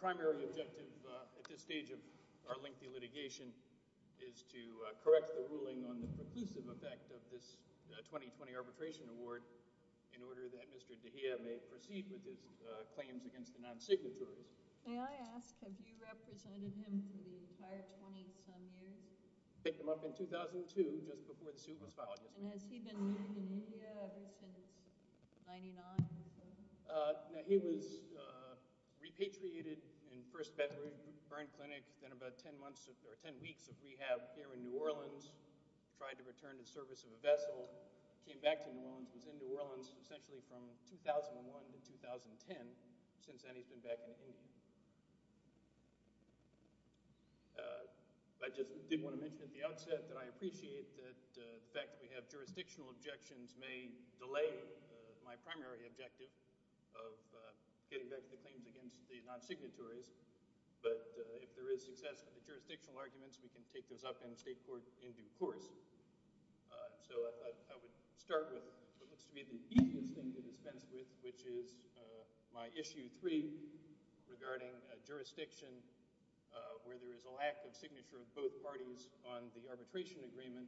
Primary objective at this stage of our lengthy litigation is to correct the ruling on the preclusive effect of this 2020 Arbitration Award in order that Mr. Dahiya may proceed with his claims against the non-signatories. May I ask, have you represented him for the entire 20-some years? I picked him up in 2002, just before the suit was filed. And has he been known in India ever since 1999? He was repatriated in First Bedford Burn Clinic, then about 10 weeks of rehab here in New Orleans. Tried to return to the service of a vessel, came back to New Orleans, was in New Orleans essentially from 2001 to 2010, since then he's been back in India. I just did want to mention at the outset that I appreciate that the fact that we have jurisdictional objections may delay my primary objective of getting back to the claims against the non-signatories, but if there is success with the jurisdictional arguments, we can take those up in state court in due course. So I would start with what looks to be the easiest thing to dispense with, which is my Issue 3 regarding a jurisdiction where there is a lack of signature of both parties on the arbitration agreement,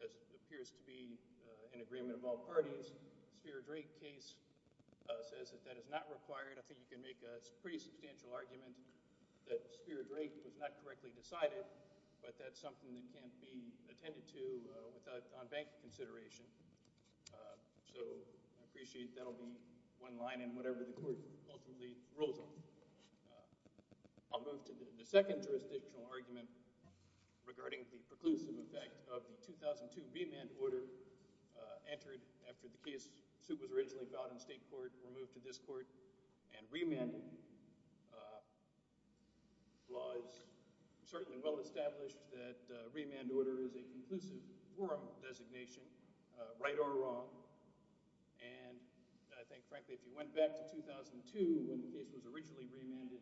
as it appears to be an agreement of all parties. The Speer-Drake case says that that is not required. I think you can make a pretty substantial argument that Speer-Drake was not correctly decided, but that's something that can't be attended to without non-bank consideration. So I appreciate that'll be one line in whatever the court ultimately rules on. I'll move to the second jurisdictional argument regarding the preclusive effect of the 2002 remand order entered after the case suit was originally filed in state court, removed to this court, and remand laws. Certainly well established that a remand order is a conclusive forum designation, right or wrong, it can be remanded.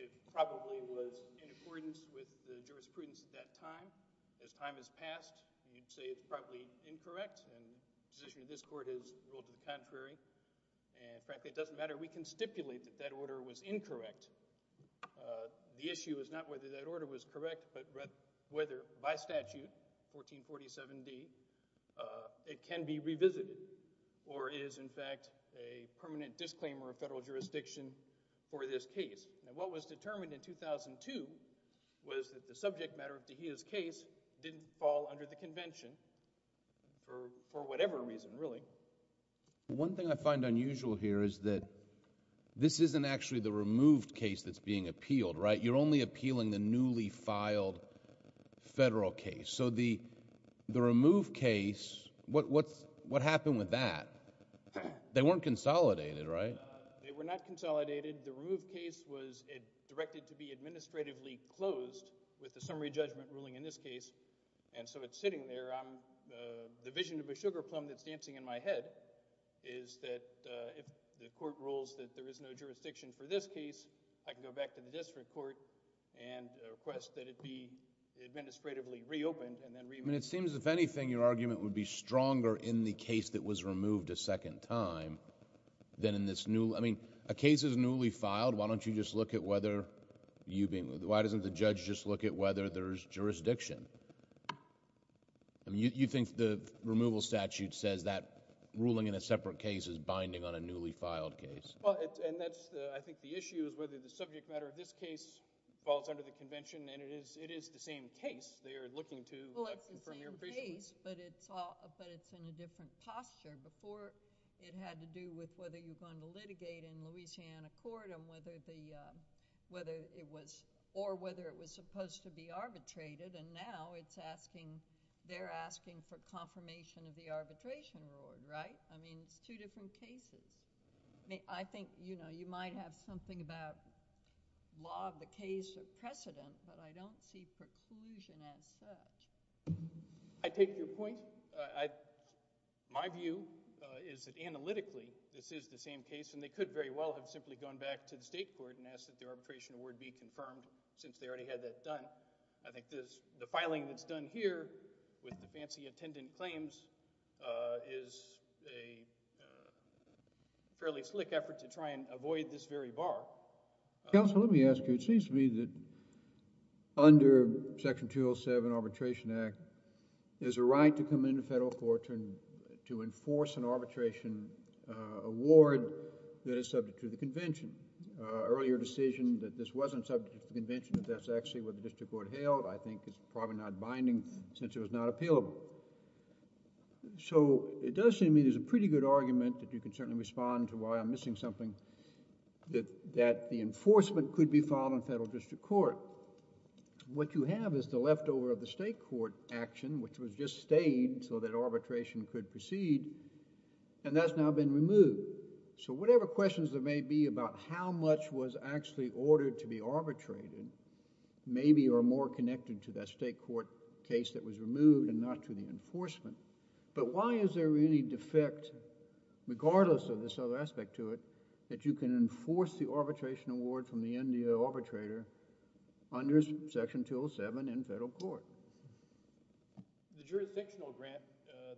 It probably was in accordance with the jurisprudence at that time. As time has passed, we'd say it's probably incorrect, and the position of this court has ruled it contrary. And frankly, it doesn't matter. We can stipulate that that order was incorrect. The issue is not whether that order was correct, but whether by statute, 1447D, it can be And what was determined in 2002 was that the subject matter of DeGioia's case didn't fall under the convention for whatever reason really. One thing I find unusual here is that this isn't actually the removed case that's being appealed, right? You're only appealing the newly filed federal case. So the removed case, what happened with that? They weren't consolidated, right? They were not consolidated. The removed case was directed to be administratively closed with the summary judgment ruling in this case, and so it's sitting there. The vision of a sugar plum that's dancing in my head is that if the court rules that there is no jurisdiction for this case, I can go back to the district court and request that it be administratively reopened and then remanded. I mean, it seems, if anything, your argument would be stronger in the case that was removed a second time than in this new... I mean, a case is newly filed, why don't you just look at whether you being... why doesn't the judge just look at whether there's jurisdiction? You think the removal statute says that ruling in a separate case is binding on a newly filed case. Well, and that's, I think, the issue is whether the subject matter of this case falls under the convention, and it is the same case they are looking to... Well, it's the same case, but it's in a different posture. Before, it had to do with whether you're going to litigate in Louisiana court and whether it was... or whether it was supposed to be arbitrated, and now it's asking... they're asking for confirmation of the arbitration award, right? I mean, it's two different cases. I think you might have something about law of the case of precedent, but I don't see preclusion as such. I take your point. My view is that analytically, this is the same case, and they could very well have simply gone back to the state court and asked that the arbitration award be confirmed since they already had that done. I think the filing that's done here with the fancy attendant claims is a fairly slick effort to try and avoid this very bar. Counsel, let me ask you. It seems to me that under Section 207 Arbitration Act, there's a right to come into federal court to enforce an arbitration award that is subject to the convention. Earlier decision that this wasn't subject to the convention, that that's actually what the district court held, I think is probably not binding since it was not appealable. It does seem to me there's a pretty good argument that you can certainly respond to something that the enforcement could be filed in federal district court. What you have is the leftover of the state court action, which was just stayed so that arbitration could proceed, and that's now been removed. Whatever questions there may be about how much was actually ordered to be arbitrated, maybe are more connected to that state court case that was removed and not to the enforcement. Why is there any defect, regardless of this other aspect to it, that you can enforce the arbitration award from the arbitrator under Section 207 in federal court? The jurisdictional grant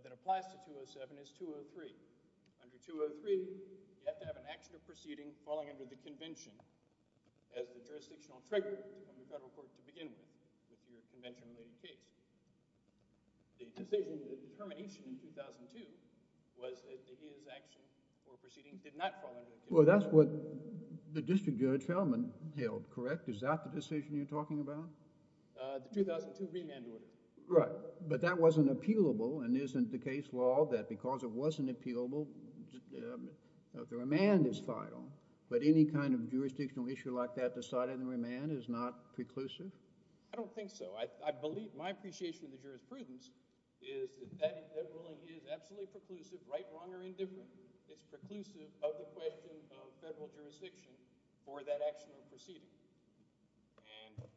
that applies to 207 is 203. Under 203, you have to have an action or proceeding falling under the convention as the jurisdictional trigger from the federal court to begin with, if your convention made a case. The decision, the determination in 2002 was that his action or proceeding did not fall under the convention. Well, that's what the district judge held, correct? Is that the decision you're talking about? The 2002 remand order. Right. But that wasn't appealable, and isn't the case law that because it wasn't appealable, the remand is filed, but any kind of jurisdictional issue like that decided in remand is not preclusive? I don't think so. I believe, my appreciation of the jurisprudence is that that ruling is absolutely preclusive, right, wrong, or indifferent. It's preclusive of the question of federal jurisdiction for that action or proceeding.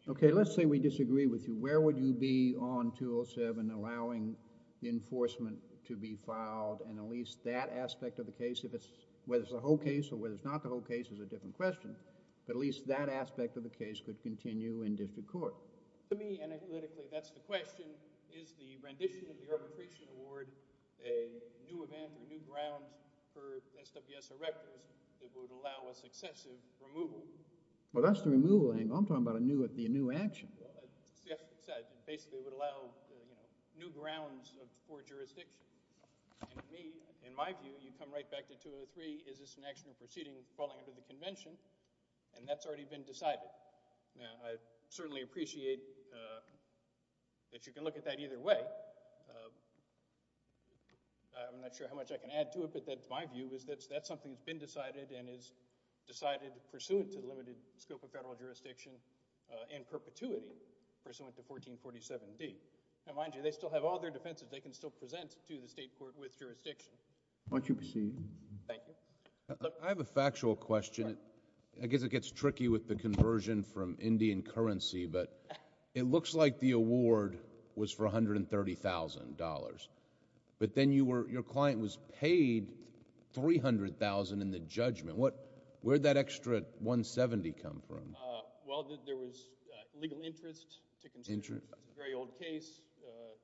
Okay, let's say we disagree with you. Where would you be on 207 allowing enforcement to be filed and at least that aspect of the case, whether it's the whole case or whether it's not the whole case is a different question, but at least that aspect of the case could continue in district court. To me, analytically, that's the question. Is the rendition of the arbitration award a new event or new ground for SWS Erectors that would allow a successive removal? Well, that's the removal thing. I'm talking about a new action. That's what I said. Basically, it would allow new grounds for jurisdiction. And to me, in my view, you come right back to 203. Is this an action or proceeding falling under the convention? And that's already been decided. Now, I certainly appreciate that you can look at that either way. I'm not sure how much I can add to it, but that's my view is that that's something that's been decided and is decided pursuant to the limited scope of federal jurisdiction and perpetuity pursuant to 1447D. Now, mind you, they still have all their defenses. They can still present to the state court with jurisdiction. Why don't you proceed? Thank you. I have a factual question. I guess it gets tricky with the conversion from Indian currency, but it looks like the award was for $130,000. But then your client was paid $300,000 in the judgment. Where did that extra $170,000 come from? Well, there was legal interest to consider. It's a very old case.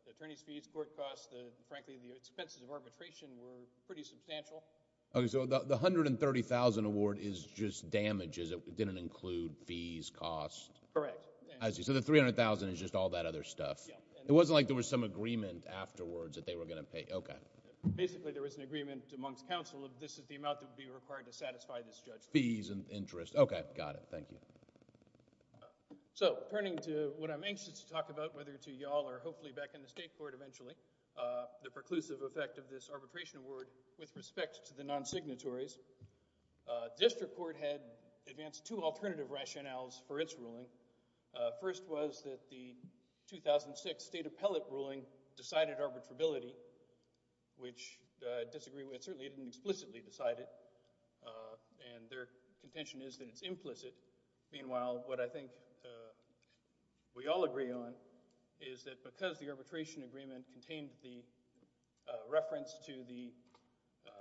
The attorney's fees, court costs, frankly, the expenses of arbitration were pretty substantial. Okay. So the $130,000 award is just damages. It didn't include fees, costs? Correct. I see. So the $300,000 is just all that other stuff. Yeah. It wasn't like there was some agreement afterwards that they were going to pay. Okay. Basically, there was an agreement amongst counsel of this is the amount that would be required to satisfy this judgment. Fees and interest. Okay. Got it. Thank you. So turning to what I'm anxious to talk about whether to you all or hopefully back in the state court eventually, the preclusive effect of this arbitration award with respect to the non-signatories, district court had advanced two alternative rationales for its ruling. First was that the 2006 state appellate ruling decided arbitrability, which I disagree with. Certainly, it didn't explicitly decide it, and their contention is that it's implicit. Meanwhile, what I think we all agree on is that because the state court maintained the reference to the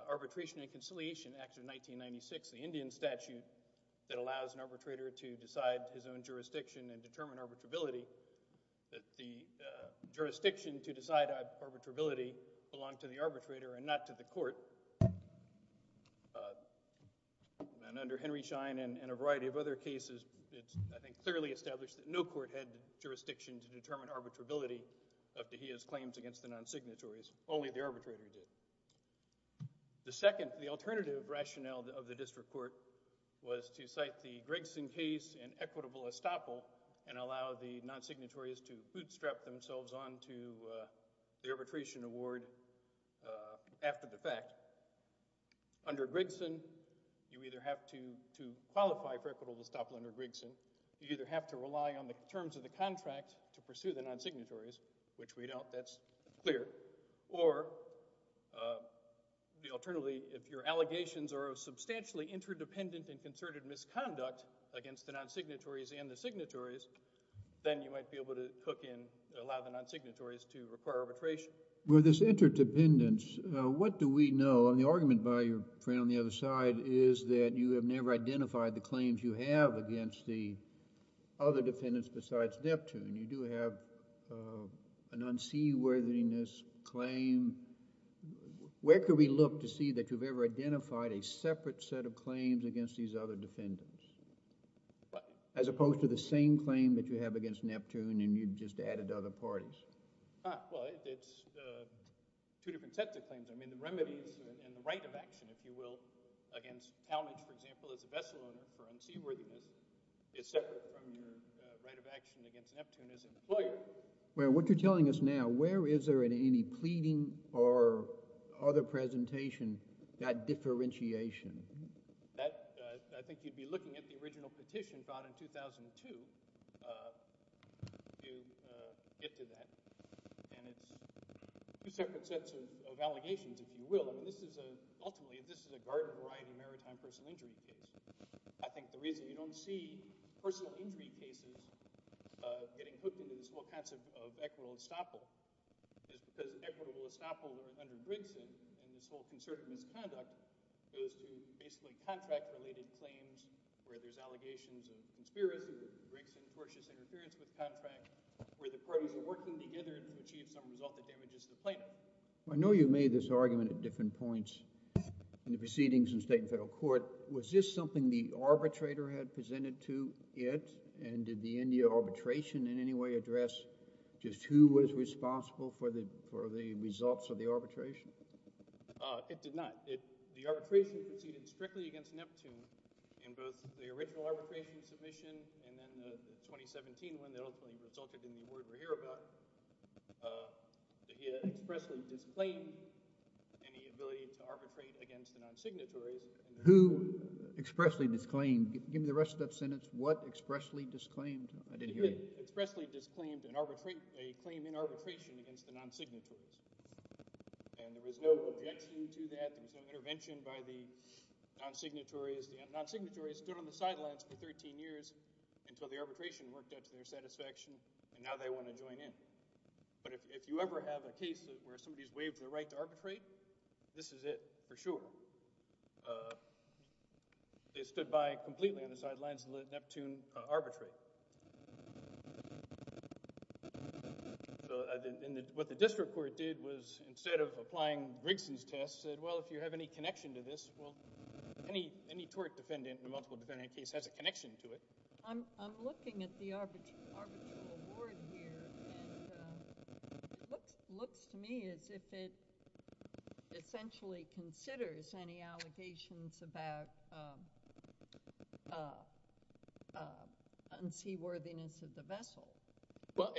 Arbitration and Conciliation Act of 1996, the Indian statute that allows an arbitrator to decide his own jurisdiction and determine arbitrability, that the jurisdiction to decide arbitrability belonged to the arbitrator and not to the court. And under Henry Schein and a variety of other cases, it's I think clearly established that no court had jurisdiction to the non-signatories, only the arbitrator did. The second, the alternative rationale of the district court was to cite the Gregson case and equitable estoppel and allow the non-signatories to bootstrap themselves on to the arbitration award after the fact. Under Gregson, you either have to qualify for equitable estoppel under Gregson, you either have to rely on the terms of the contract to pursue the non-signatories, which we know that's clear, or alternatively, if your allegations are of substantially interdependent and concerted misconduct against the non-signatories and the signatories, then you might be able to hook in, allow the non-signatories to require arbitration. With this interdependence, what do we know? The argument by your friend on the other side is that you have never identified the claims you have against the other defendants besides Neptune. You do have an unseaworthiness claim. Where could we look to see that you've ever identified a separate set of claims against these other defendants as opposed to the same claim that you have against Neptune and you just added other parties? Well, it's two different sets of claims. I mean, the remedies and the right of action, if you will, against Talmadge, for example, as a vessel owner for unseaworthiness is separate from your right of action against Neptune as an employer. Well, what you're telling us now, where is there in any pleading or other presentation that differentiation? I think you'd be looking at the original petition brought in 2002 to get to that. And it's two separate sets of allegations, if you will. Ultimately, this is a garden-variety maritime personal injury case. I think the reason you don't see personal injury cases getting hooked into these whole kinds of equitable estoppel is because equitable estoppel under Gregson and this whole concerted misconduct goes to basically contract-related claims where there's allegations of conspiracy with Gregson, tortious interference with contract, where the parties are working together to achieve some result that damages the plaintiff. I know you made this argument at different points in the proceedings in state and federal court. Was this something the arbitrator had presented to it, and did the India arbitration in any way address just who was responsible for the results of the arbitration? It did not. The arbitration proceeded strictly against Neptune in both the original arbitration submission and then the 2017 one that ultimately resulted in the award we're here about. He expressly disclaimed any ability to arbitrate against the non-signatories. Who expressly disclaimed? Give me the rest of that sentence. What expressly disclaimed? I didn't hear you. He expressly disclaimed a claim in arbitration against the non-signatories, and there was no objection to that. There was no intervention by the non-signatories. The non-signatories stood on the sidelines for 13 years until the arbitration worked out to their satisfaction, and now they want to join in. But if you ever have a case where somebody's waived their right to arbitrate, this is it for sure. They stood by completely on the sidelines to let Neptune arbitrate. What the district court did was, instead of applying Briggson's test, said, well, if you have any connection to this, well, any tort defendant in a multiple defendant case has a connection to it. I'm looking at the arbitral award here, and it looks to me as if it essentially considers any allegations about unseaworthiness of the vessel. Well,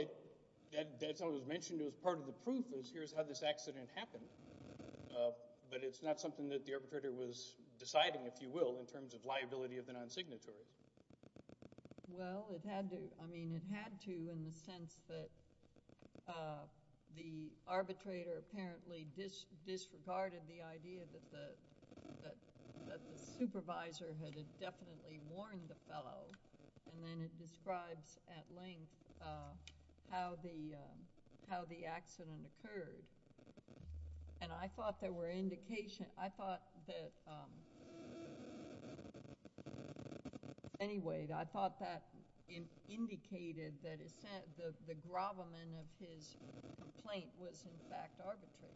that's what was mentioned as part of the proof, is here's how this accident happened. But it's not something that the arbitrator was deciding, if you will, in terms of liability of the non-signatory. Well, it had to. I mean, it had to in the sense that the arbitrator apparently disregarded the idea that the supervisor had indefinitely warned the fellow, and then it describes at length how the accident occurred. And I thought there were indications. I thought that, anyway, I thought that indicated that the gravamen of his complaint was, in fact, arbitrary.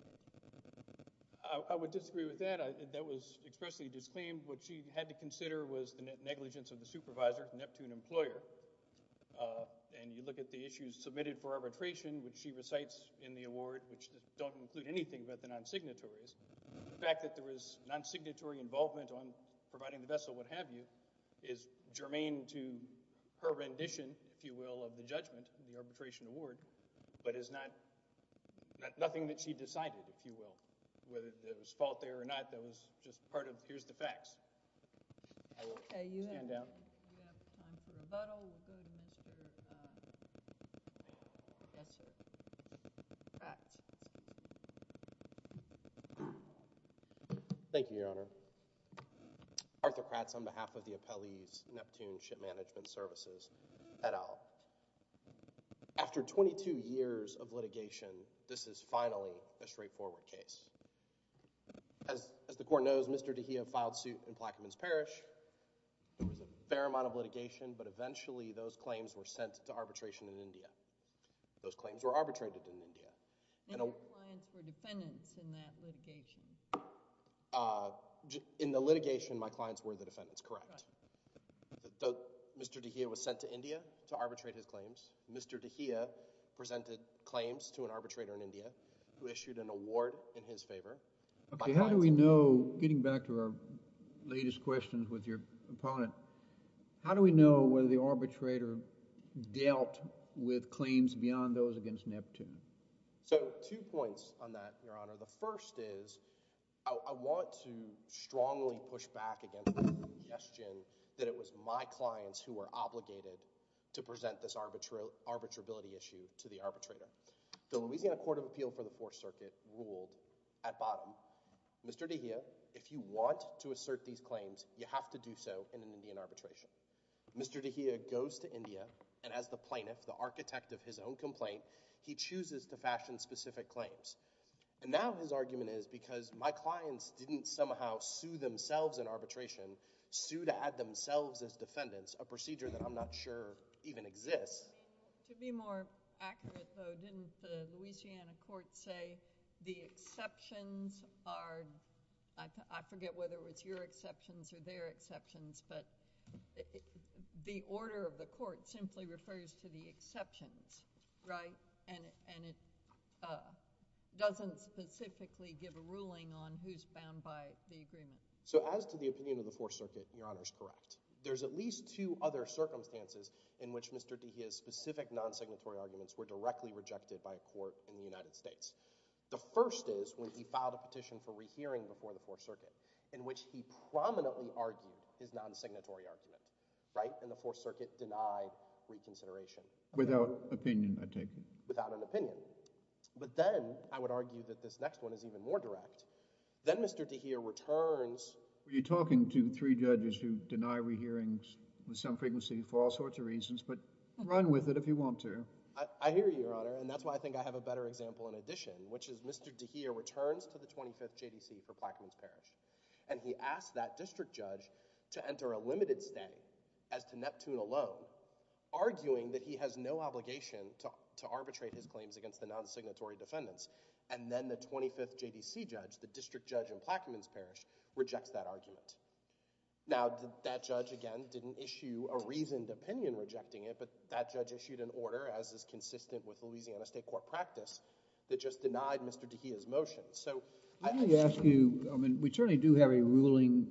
I would disagree with that. That was expressly disclaimed. What she had to consider was the negligence of the supervisor, Neptune, employer. And you look at the issues submitted for arbitration, which she recites in the award, which don't include anything but the non-signatories. The fact that there was non-signatory involvement on providing the vessel, what have you, is germane to her rendition, if you will, of the judgment in the arbitration award, but is nothing that she decided, if you will, whether there was fault there or not. That was just part of here's the facts. I will stand down. We have time for rebuttal. We'll go to Mr. Pratt. Thank you, Your Honor. Arthur Pratt is on behalf of the appellees, Neptune Ship Management Services, et al. After 22 years of litigation, this is finally a straightforward case. As the Court knows, Mr. DeGio filed suit in Plaquemines Parish. There was a fair amount of litigation, but eventually those claims were sent to arbitration in India. Those claims were arbitrated in India. And your clients were defendants in that litigation. In the litigation, my clients were the defendants, correct. Mr. DeGio was sent to India to arbitrate his claims. Mr. DeGio presented claims to an arbitrator in India who issued an award in his favor. Okay, how do we know, getting back to our latest questions with your opponent, how do we know whether the arbitrator dealt with claims beyond those against Neptune? The first is, I want to strongly push back against the suggestion that it was my clients who were obligated to present this arbitrability issue to the arbitrator. The Louisiana Court of Appeal for the Fourth Circuit ruled at bottom, Mr. DeGio, if you want to assert these claims, you have to do so in an Indian arbitration. Mr. DeGio goes to India, and as the plaintiff, the architect of his own complaint, he chooses to fashion specific claims. And now his argument is because my clients didn't somehow sue themselves in arbitration, sue to add themselves as defendants, a procedure that I'm not sure even exists. To be more accurate though, didn't the Louisiana court say the exceptions are, I forget whether it was your exceptions or their exceptions, but the order of the court simply refers to the exceptions, right? And it doesn't specifically give a ruling on who's bound by the agreement. So as to the opinion of the Fourth Circuit, Your Honor is correct. There's at least two other circumstances in which Mr. DeGio's specific non-signatory arguments were directly rejected by a court in the United States. The first is when he filed a petition for rehearing before the Fourth Circuit in which he prominently argued his non-signatory argument, right? And the Fourth Circuit denied reconsideration. Without opinion, I take it. Without an opinion. But then I would argue that this next one is even more direct. Then Mr. DeGio returns. You're talking to three judges who deny rehearings with some frequency for all sorts of reasons, but run with it if you want to. I hear you, Your Honor. And that's why I think I have a better example in addition, which is Mr. DeGio returns to the 25th JDC for Plaquemines Parish. And he asked that district judge to enter a limited stay as to Neptune alone, arguing that he has no obligation to arbitrate his claims against the non-signatory defendants. And then the 25th JDC judge, the district judge in Plaquemines Parish, rejects that argument. Now, that judge, again, didn't issue a reasoned opinion rejecting it, but that judge issued an order as is consistent with Louisiana state court practice that just denied Mr. DeGio's motion. Let me ask you, we certainly do have a ruling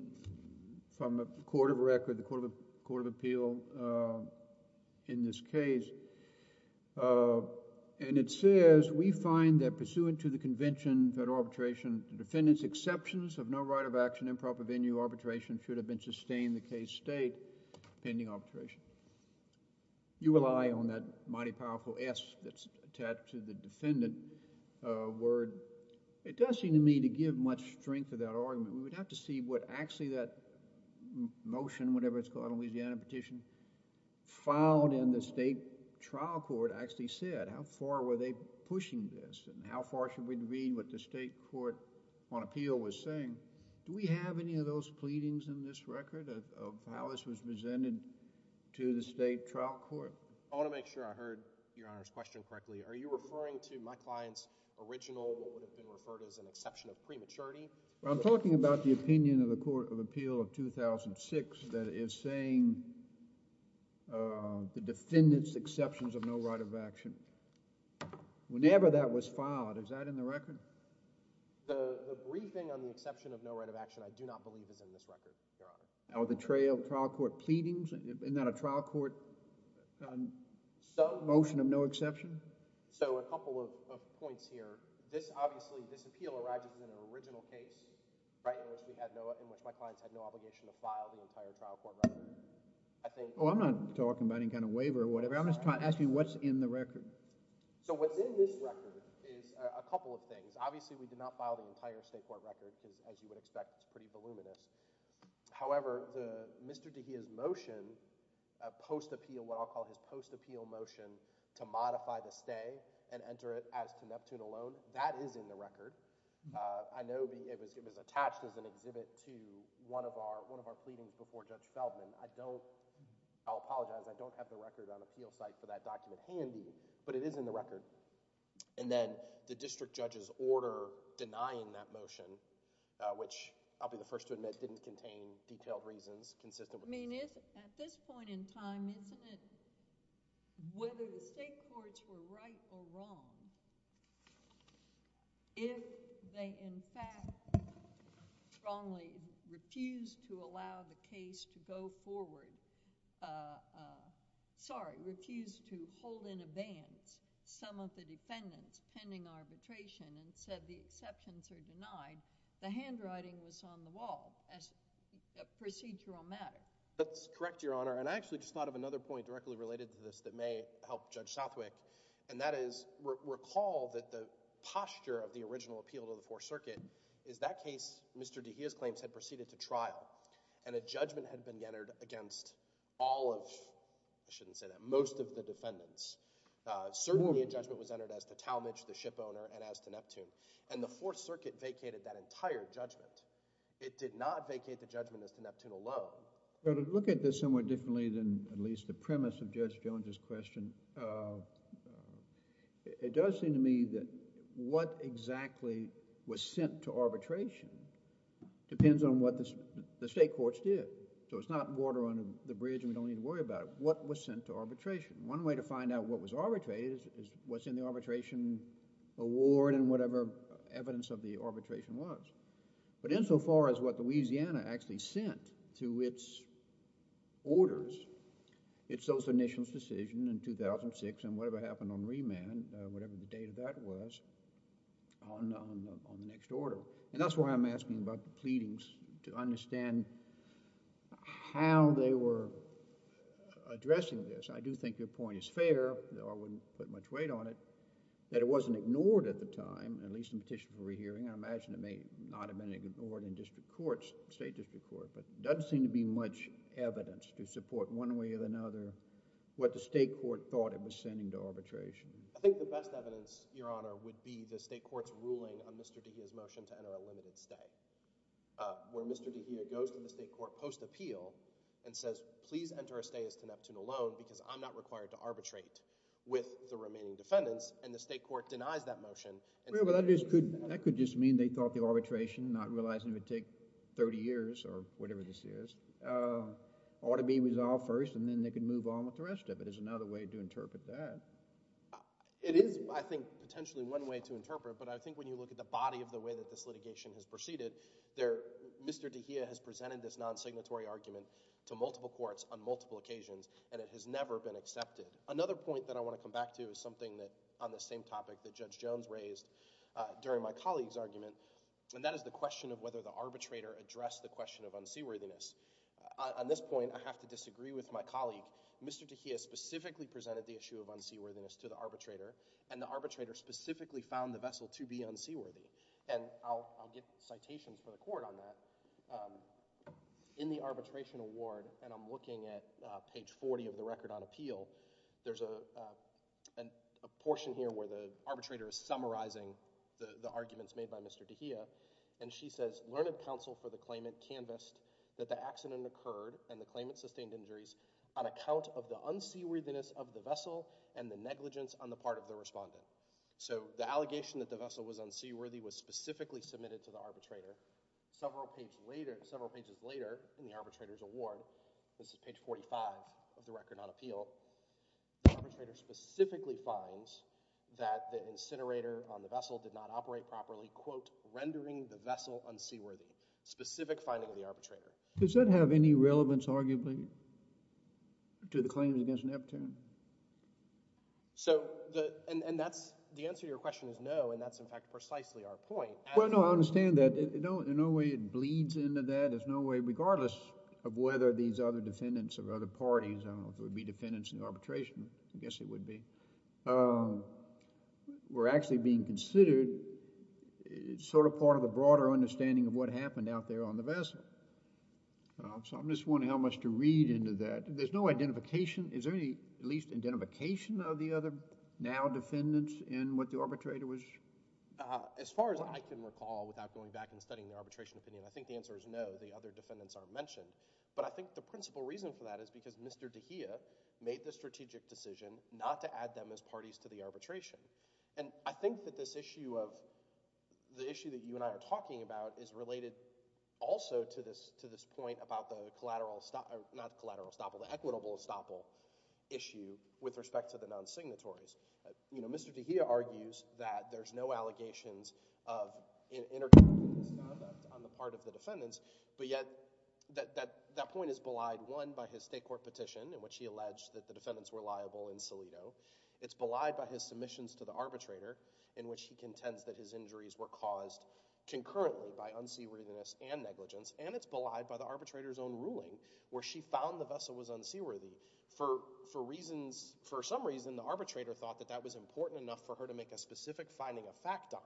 from the court of record, the court of appeal in this case. And it says, we find that pursuant to the convention that arbitration, the defendant's exceptions of no right of action improper venue arbitration should have been sustained in the case state pending arbitration. You rely on that mighty powerful S that's attached to the defendant word. It does seem to me to give much strength to that argument. We would have to see what actually that motion, whatever it's called, a Louisiana petition, filed in the state trial court actually said. How far were they pushing this? And how far should we read what the state court on appeal was saying? Do we have any of those pleadings in this record of how this was presented to the state trial court? I want to make sure I heard Your Honor's question correctly. Are you referring to my client's original, what would have been referred to as an exception of prematurity? I'm talking about the opinion of the court of appeal of 2006 that is saying the defendant's exceptions of no right of action. Whenever that was filed, is that in the record? The briefing on the exception of no right of action, I do not believe is in this record, Your Honor. The trial court pleadings? Isn't that a trial court motion of no exception? A couple of points here. Obviously, this appeal arises in an original case in which my clients had no obligation to file the entire trial court record. I'm not talking about any kind of waiver or whatever. I'm just trying to ask you what's in the record. What's in this record is a couple of things. Obviously, we did not file the entire state court record because, as you would expect, it's pretty voluminous. However, Mr. DeGioia's motion, post-appeal, what I'll call his post-appeal motion to modify the stay and enter it as to Neptune alone, that is in the record. I know it was attached as an exhibit to one of our pleadings before Judge Feldman. I'll apologize. I don't have the record on appeal site for that document handy, but it is in the record. Then the district judge's order denying that motion, which I'll be the first to admit didn't contain detailed reasons consistent with— At this point in time, isn't it whether the state courts were right or wrong, if they, in fact, strongly refused to allow the case to go forward— pending arbitration and said the exceptions are denied, the handwriting was on the wall as a procedural matter? That's correct, Your Honor. I actually just thought of another point directly related to this that may help Judge Southwick, and that is recall that the posture of the original appeal to the Fourth Circuit is that case Mr. DeGioia's claims had proceeded to trial and a judgment had been entered against all of— I shouldn't say that—most of the defendants. Certainly a judgment was entered as to Talmadge, the ship owner, and as to Neptune. And the Fourth Circuit vacated that entire judgment. It did not vacate the judgment as to Neptune alone. To look at this somewhat differently than at least the premise of Judge Jones' question, it does seem to me that what exactly was sent to arbitration depends on what the state courts did. So it's not water under the bridge and we don't need to worry about it. What was sent to arbitration? One way to find out what was arbitrated is what's in the arbitration award and whatever evidence of the arbitration was. But insofar as what Louisiana actually sent to its orders, it's those initial decisions in 2006 and whatever happened on remand, whatever the date of that was, on the next order. And that's why I'm asking about the pleadings to understand how they were addressing this. I do think your point is fair. I wouldn't put much weight on it. That it wasn't ignored at the time, at least in petition for rehearing. I imagine it may not have been ignored in district courts, state district courts. But there doesn't seem to be much evidence to support one way or another what the state court thought it was sending to arbitration. I think the best evidence, Your Honor, would be the state court's ruling on Mr. DeGea's motion to enter a limited stay. When Mr. DeGea goes to the state court post-appeal and says, please enter a stay as connected to the loan because I'm not required to arbitrate with the remaining defendants, and the state court denies that motion. That could just mean they thought the arbitration, not realizing it would take 30 years or whatever this is, ought to be resolved first and then they could move on with the rest of it is another way to interpret that. It is, I think, potentially one way to interpret, but I think when you look at the body of the way that this litigation has proceeded, Mr. DeGea has presented this non-signatory argument to multiple courts on multiple occasions and it has never been accepted. Another point that I want to come back to is something that, on the same topic that Judge Jones raised during my colleague's argument, and that is the question of whether the arbitrator addressed the question of unseaworthiness. On this point, I have to disagree with my colleague. Mr. DeGea specifically presented the issue of unseaworthiness to the arbitrator and the arbitrator specifically found the vessel to be unseaworthy. And I'll give citations for the court on that. In the arbitration award, and I'm looking at page 40 of the record on appeal, there's a portion here where the arbitrator is summarizing the arguments made by Mr. DeGea and she says, Learned counsel for the claimant canvassed that the accident occurred and the claimant sustained injuries on account of the unseaworthiness of the vessel and the negligence on the part of the respondent. So the allegation that the vessel was unseaworthy was specifically submitted to the arbitrator. Several pages later in the arbitrator's award, this is page 45 of the record on appeal, the arbitrator specifically finds that the incinerator on the vessel did not operate properly, quote, rendering the vessel unseaworthy. Specific finding of the arbitrator. Does that have any relevance arguably to the claims against Neptune? So the answer to your question is no, and that's in fact precisely our point. Well, no, I understand that. In no way it bleeds into that. There's no way, regardless of whether these other defendants of other parties, I don't know if it would be defendants in the arbitration, I guess it would be, were actually being considered, it's sort of part of the broader understanding of what happened out there on the vessel. So I'm just wondering how much to read into that. There's no identification. Is there any at least identification of the other now defendants in what the arbitrator was? As far as I can recall without going back and studying the arbitration opinion, I think the answer is no, the other defendants aren't mentioned. But I think the principal reason for that is because Mr. DeGioia made the strategic decision not to add them as parties to the arbitration. And I think that this issue of, the issue that you and I are talking about is related also to this point about the equitable estoppel issue with respect to the non-signatories. You know, Mr. DeGioia argues that there's no allegations of intercontinental misconduct on the part of the defendants. But yet, that point is belied, one, by his state court petition in which he alleged that the defendants were liable in Salido. It's belied by his submissions to the arbitrator in which he contends that his injuries were caused concurrently by unseaworthiness and negligence. And it's belied by the arbitrator's own ruling where she found the vessel was unseaworthy. For reasons, for some reason, the arbitrator thought that that was important enough for her to make a specific finding of fact on.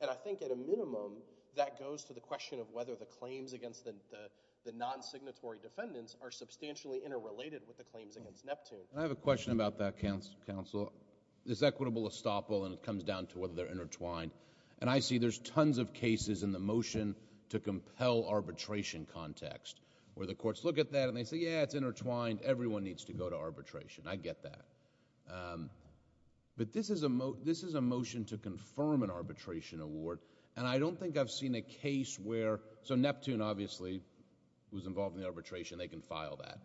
And I think at a minimum, that goes to the question of whether the claims against the non-signatory defendants are substantially interrelated with the claims against Neptune. I have a question about that, counsel. This equitable estoppel, and it comes down to whether they're intertwined. And I see there's tons of cases in the motion to compel arbitration context where the courts look at that and they say, yeah, it's intertwined, everyone needs to go to arbitration. I get that. But this is a motion to confirm an arbitration award, and I don't think I've seen a case where— so Neptune, obviously, was involved in the arbitration, they can file that.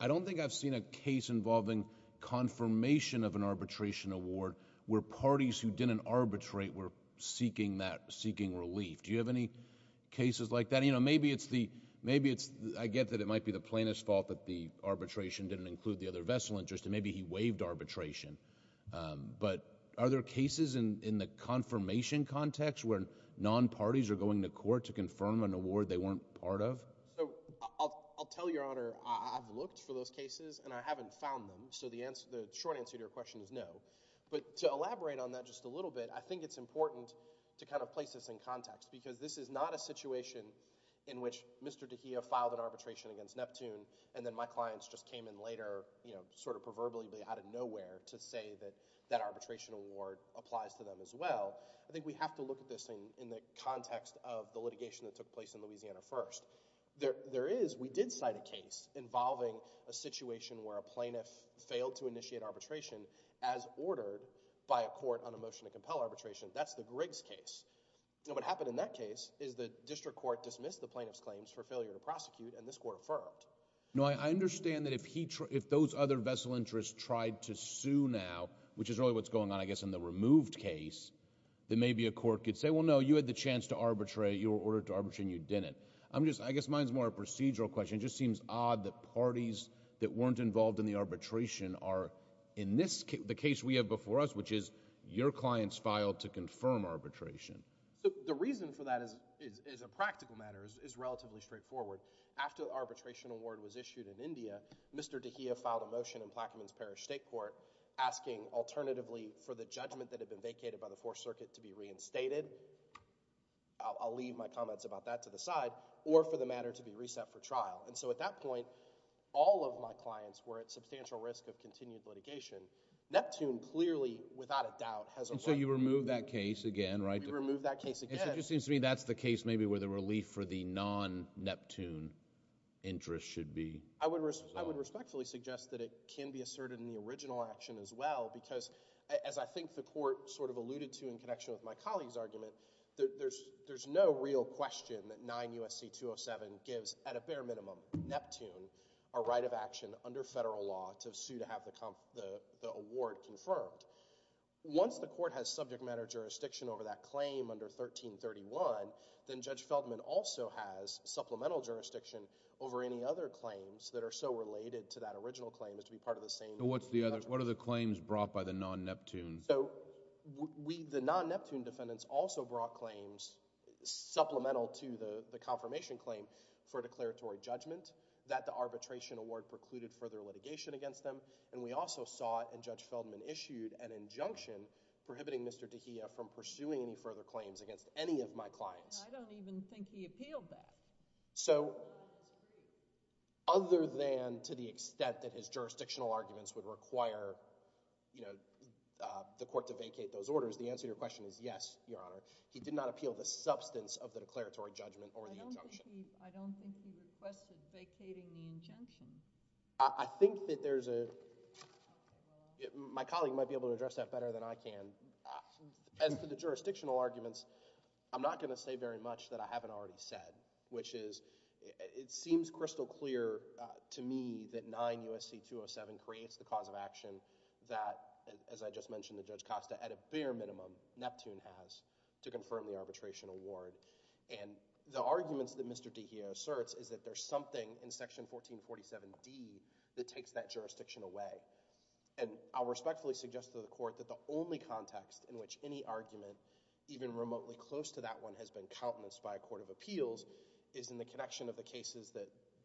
I don't think I've seen a case involving confirmation of an arbitration award where parties who didn't arbitrate were seeking relief. Do you have any cases like that? And, you know, maybe it's the—I get that it might be the plaintiff's fault that the arbitration didn't include the other vessel interest, and maybe he waived arbitration. But are there cases in the confirmation context where non-parties are going to court to confirm an award they weren't part of? So I'll tell Your Honor, I've looked for those cases, and I haven't found them. So the short answer to your question is no. But to elaborate on that just a little bit, I think it's important to kind of place this in context because this is not a situation in which Mr. DeGioia filed an arbitration against Neptune and then my clients just came in later, you know, sort of proverbially out of nowhere to say that that arbitration award applies to them as well. I think we have to look at this in the context of the litigation that took place in Louisiana first. There is—we did cite a case involving a situation where a plaintiff failed to initiate arbitration as ordered by a court on a motion to compel arbitration. That's the Griggs case. You know, what happened in that case is the district court dismissed the plaintiff's claims for failure to prosecute, and this court affirmed. No, I understand that if those other vessel interests tried to sue now, which is really what's going on, I guess, in the removed case, that maybe a court could say, well, no, you had the chance to arbitrate. You were ordered to arbitrate, and you didn't. I'm just—I guess mine's more a procedural question. It just seems odd that parties that weren't involved in the arbitration are— The case we have before us, which is your clients filed to confirm arbitration. The reason for that is a practical matter. It's relatively straightforward. After the arbitration award was issued in India, Mr. DeGioia filed a motion in Plaquemines Parish State Court asking alternatively for the judgment that had been vacated by the Fourth Circuit to be reinstated. I'll leave my comments about that to the side, or for the matter to be reset for trial. At that point, all of my clients were at substantial risk of continued litigation. Neptune clearly, without a doubt, has a right to be— You removed that case again, right? We removed that case again. It just seems to me that's the case maybe where the relief for the non-Neptune interest should be. I would respectfully suggest that it can be asserted in the original action as well, because as I think the court sort of alluded to in connection with my colleague's argument, there's no real question that 9 U.S.C. 207 gives, at a bare minimum, Neptune a right of action under federal law to sue to have the award confirmed. Once the court has subject matter jurisdiction over that claim under 1331, then Judge Feldman also has supplemental jurisdiction over any other claims that are so related to that original claim as to be part of the same— What are the claims brought by the non-Neptune? So the non-Neptune defendants also brought claims supplemental to the confirmation claim for declaratory judgment that the arbitration award precluded further litigation against them, and we also saw in Judge Feldman issued an injunction prohibiting Mr. Tejeda from pursuing any further claims against any of my clients. I don't even think he appealed that. So other than to the extent that his jurisdictional arguments would require the court to vacate those orders, the answer to your question is yes, Your Honor. He did not appeal the substance of the declaratory judgment or the injunction. I don't think he requested vacating the injunction. I think that there's a—my colleague might be able to address that better than I can. As for the jurisdictional arguments, I'm not going to say very much that I haven't already said, which is it seems crystal clear to me that 9 U.S.C. 207 creates the cause of action that, as I just mentioned to Judge Costa, at a bare minimum, Neptune has to confirm the arbitration award. And the arguments that Mr. Tejeda asserts is that there's something in Section 1447D that takes that jurisdiction away. And I'll respectfully suggest to the court that the only context in which any argument, even remotely close to that one, has been countenanced by a court of appeals is in the connection of the cases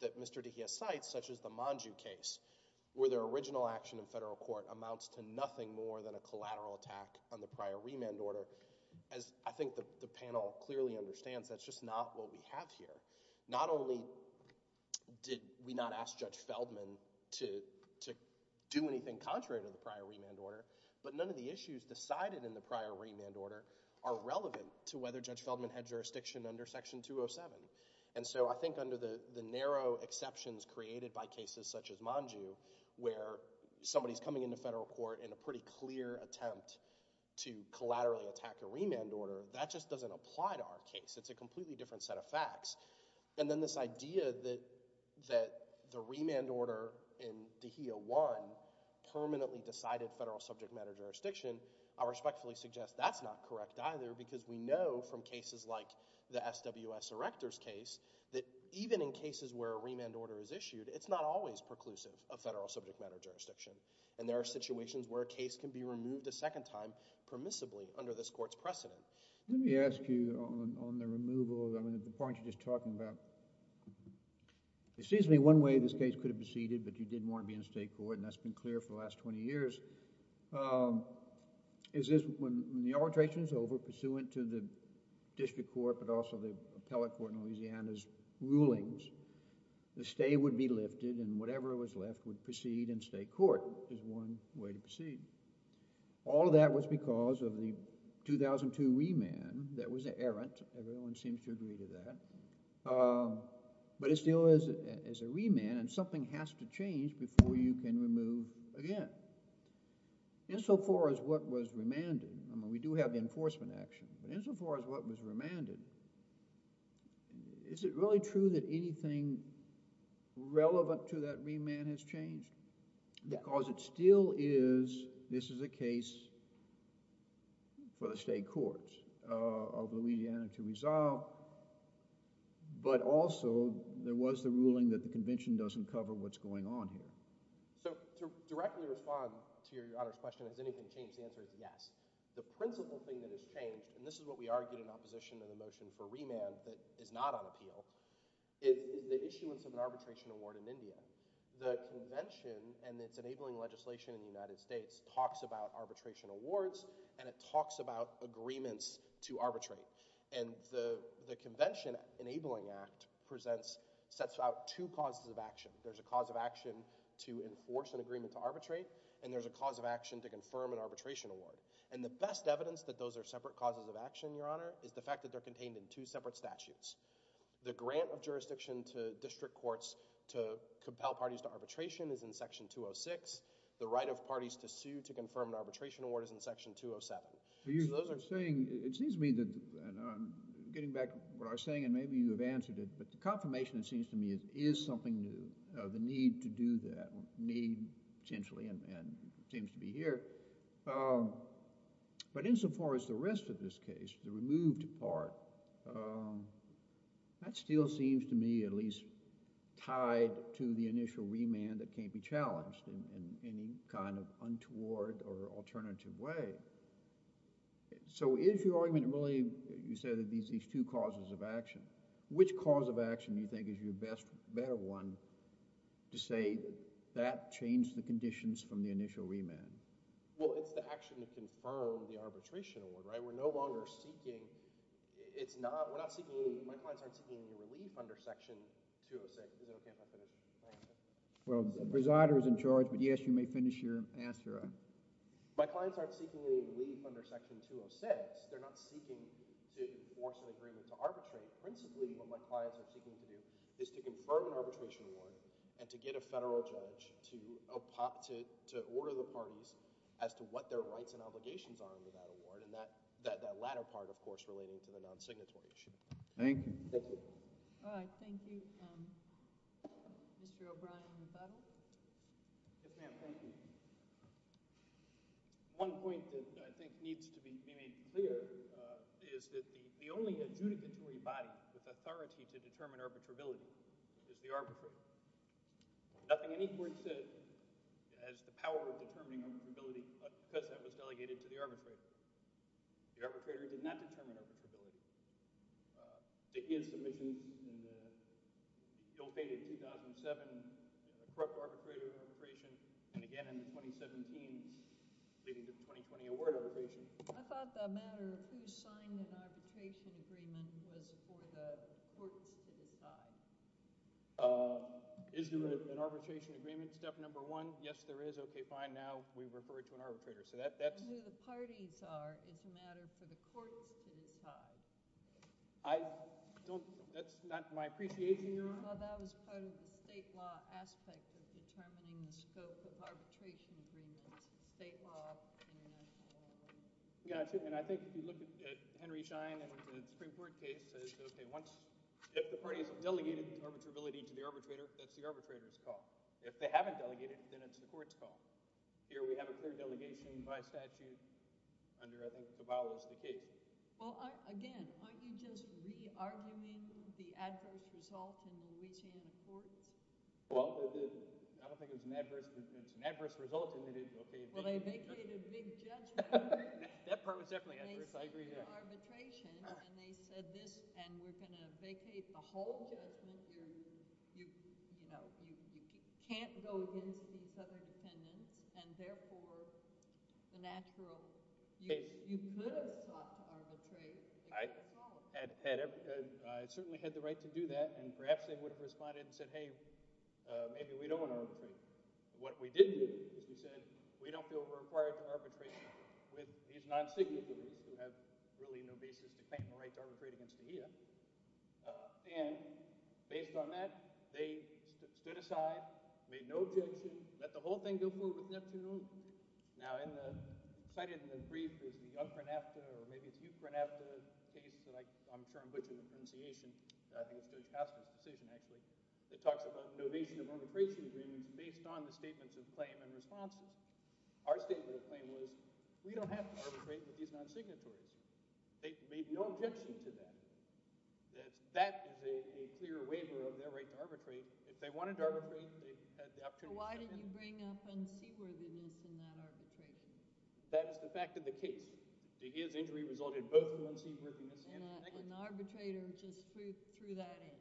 that Mr. Tejeda cites, such as the Monju case, where their original action in federal court amounts to nothing more than a collateral attack on the prior remand order. As I think the panel clearly understands, that's just not what we have here. Not only did we not ask Judge Feldman to do anything contrary to the prior remand order, but none of the issues decided in the prior remand order are relevant to whether Judge Feldman had jurisdiction under Section 207. And so I think under the narrow exceptions created by cases such as Monju, where somebody's coming into federal court in a pretty clear attempt to collaterally attack a remand order, that just doesn't apply to our case. It's a completely different set of facts. And then this idea that the remand order in Tejeda 1 permanently decided federal subject matter jurisdiction, I respectfully suggest that's not correct either, because we know from cases like the SWS Erector's case that even in cases where a remand order is issued, it's not always preclusive of federal subject matter jurisdiction. And there are situations where a case can be removed a second time permissibly under this court's precedent. Let me ask you on the removal, the point you're just talking about. It seems to me one way this case could have proceeded, but you didn't want to be in state court, and that's been clear for the last 20 years, is when the arbitration is over, pursuant to the district court, but also the appellate court in Louisiana's rulings, the stay would be lifted and whatever was left would proceed in state court, is one way to proceed. All of that was because of the 2002 remand that was errant. Everyone seems to agree to that. But it still is a remand, and something has to change before you can remove again. Insofar as what was remanded, I mean we do have the enforcement action, but insofar as what was remanded, is it really true that anything relevant to that remand has changed? Because it still is, this is a case for the state courts of Louisiana to resolve, but also there was the ruling that the convention doesn't cover what's going on here. So to directly respond to your Honor's question, has anything changed, the answer is yes. The principle thing that has changed, and this is what we argued in opposition to the motion for remand that is not on appeal, is the issuance of an arbitration award in India. The convention and its enabling legislation in the United States talks about arbitration awards, and it talks about agreements to arbitrate. And the convention enabling act presents, sets out two causes of action. There's a cause of action to enforce an agreement to arbitrate, and there's a cause of action to confirm an arbitration award. And the best evidence that those are separate causes of action, your Honor, is the fact that they're contained in two separate statutes. The grant of jurisdiction to district courts to compel parties to arbitration is in section 206. The right of parties to sue to confirm an arbitration award is in section 207. So those are saying, it seems to me that, and I'm getting back to what I was saying, and maybe you have answered it, but the confirmation it seems to me is something new, the need to do that, need essentially, and it seems to be here. But insofar as the rest of this case, the removed part, that still seems to me at least tied to the initial remand that can't be challenged in any kind of untoward or alternative way. So is your argument really, you said that these two causes of action, which cause of action do you think is your best, better one to say that changed the conditions from the initial remand? Well, it's the action to confirm the arbitration award, right? We're no longer seeking, it's not, we're not seeking, my clients aren't seeking any relief under section 206. You know, can I finish? Well, the presider is in charge, but yes, you may finish your answer. My clients aren't seeking any relief under section 206. They're not seeking to enforce an agreement to arbitrate. Principally, what my clients are seeking to do is to confirm an arbitration award and to get a federal judge to order the parties as to what their rights and obligations are under that award, and that latter part, of course, relating to the non-signatory issue. Thank you. Thank you. All right, thank you. Mr. O'Brien, your final? Yes, ma'am, thank you. One point that I think needs to be made clear is that the only adjudicatory body with authority to determine arbitrability is the arbitrator. Nothing in any court says it has the power of determining arbitrability, because that was delegated to the arbitrator. The arbitrator did not determine arbitrability. To his submission in the bill dated 2007, a corrupt arbitrator in arbitration, and again in the 2017s, leading to the 2020 award arbitration. I thought the matter of who signed the arbitration agreement was for the courts to decide. Is there an arbitration agreement, step number one? Yes, there is. Okay, fine, now we refer it to an arbitrator. Who the parties are is a matter for the courts to decide. That's not my appreciation, Your Honor. Well, that was part of the state law aspect of determining the scope of arbitration agreements, state law. Yes, and I think if you look at Henry Schein and the Supreme Court case, if the parties have delegated arbitrability to the arbitrator, that's the arbitrator's call. If they haven't delegated, then it's the court's call. Here we have a clear delegation by statute under, I think, the bowels of the case. Well, again, aren't you just re-arguing the adverse result in the Louisiana courts? Well, I don't think it was an adverse result. Well, they vacated a big judgment. That part was definitely adverse, I agree. They said arbitration, and they said this, and we're going to vacate the whole judgment. You can't go against these other dependents, and therefore the natural – you could have stopped arbitration. I certainly had the right to do that, and perhaps they would have responded and said, hey, maybe we don't want to arbitrate. What we did do is we said we don't feel required to arbitrate with these non-signatories who have really no basis to claim the right to arbitrate against the EIA. And based on that, they stood aside, made no objections, let the whole thing go forward with Neptune. Now in the – cited in the brief is the young Pernapta, or maybe it's you Pernapta case that I'm sure I'm butchering the pronunciation. I think it's Judge Kastner's decision, actually. It talks about novation of arbitration agreements based on the statements of claim and response. Our statement of claim was we don't have to arbitrate with these non-signatories. They made no objection to that. That is a clear waiver of their right to arbitrate. If they wanted to arbitrate, they had the opportunity to do that. Why did you bring up unseaworthiness in that arbitration? That is the fact of the case. The EIA's injury resulted both in unseaworthiness and – And the arbitrator just threw that in.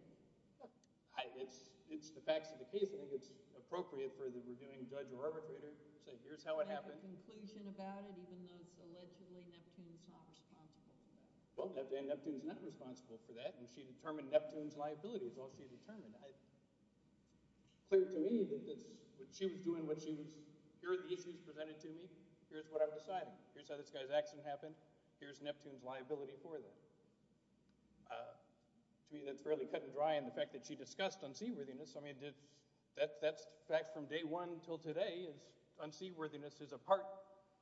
It's the facts of the case. I think it's appropriate for the reviewing judge or arbitrator to say here's how it happened. Do you have a conclusion about it even though it's allegedly Neptune's not responsible for that? Well, Neptune's not responsible for that, and she determined Neptune's liability. That's all she determined. It's clear to me that she was doing what she was – here are the issues presented to me. Here's what I've decided. Here's how this guy's accident happened. Here's Neptune's liability for that. To me, that's fairly cut and dry in the fact that she discussed unseaworthiness. I mean, that's fact from day one until today is unseaworthiness is a part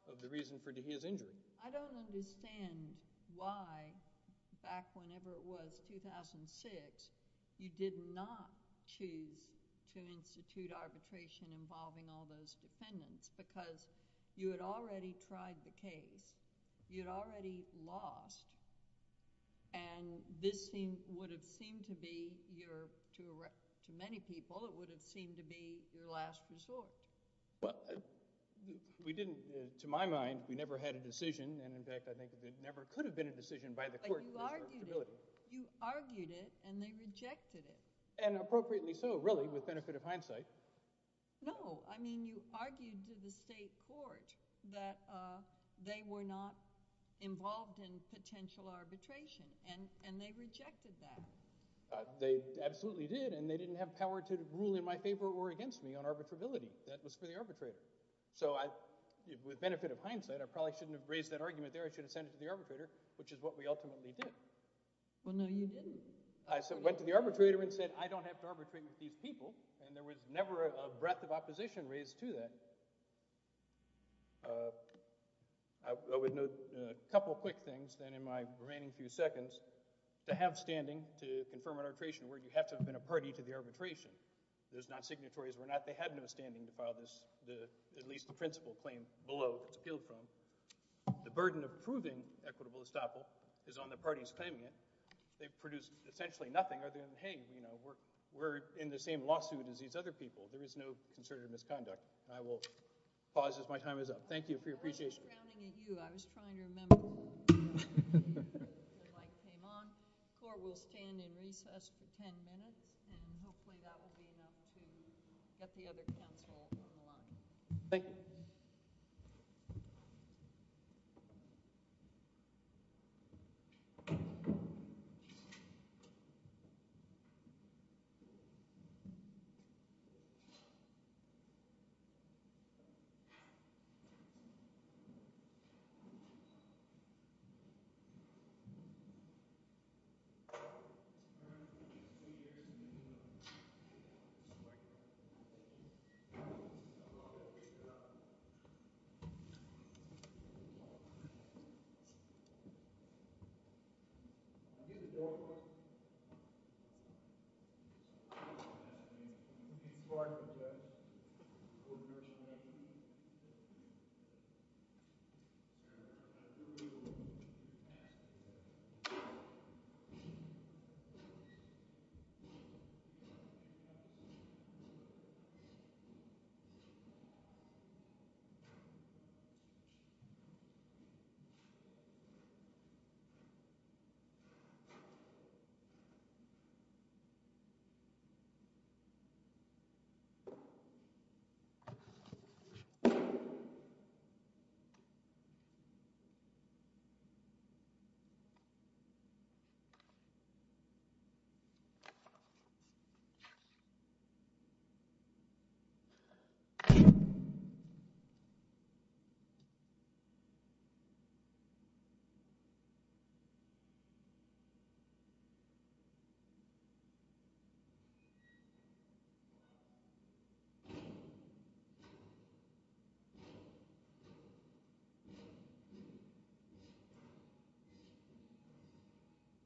of the reason for his injury. I don't understand why back whenever it was 2006 you did not choose to institute arbitration involving all those defendants because you had already tried the case. You had already lost, and this would have seemed to be your – to many people, it would have seemed to be your last resort. Well, we didn't – to my mind, we never had a decision, and in fact, I think it never could have been a decision by the court. But you argued it. You argued it, and they rejected it. And appropriately so, really, with benefit of hindsight. No, I mean you argued to the state court that they were not involved in potential arbitration, and they rejected that. They absolutely did, and they didn't have power to rule in my favor or against me on arbitrability. That was for the arbitrator. So with benefit of hindsight, I probably shouldn't have raised that argument there. I should have sent it to the arbitrator, which is what we ultimately did. Well, no, you didn't. I went to the arbitrator and said, I don't have to arbitrate with these people, and there was never a breath of opposition raised to that. I would note a couple of quick things then in my remaining few seconds. To have standing to confirm an arbitration where you have to have been a party to the arbitration. Those non-signatories were not – they had no standing to file this, at least the principal claim below it's appealed from. The burden of proving equitable estoppel is on the parties claiming it. They've produced essentially nothing other than, hey, we're in the same lawsuit as these other people. There is no concerted misconduct. I will pause as my time is up. Thank you for your appreciation. I was rounding at you. I was trying to remember. The mic came on. The court will stand in recess for ten minutes, and hopefully that will be enough to get the other counsel on the line. Thank you. Thank you. Thank you. Thank you.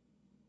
Thank you. Thank you.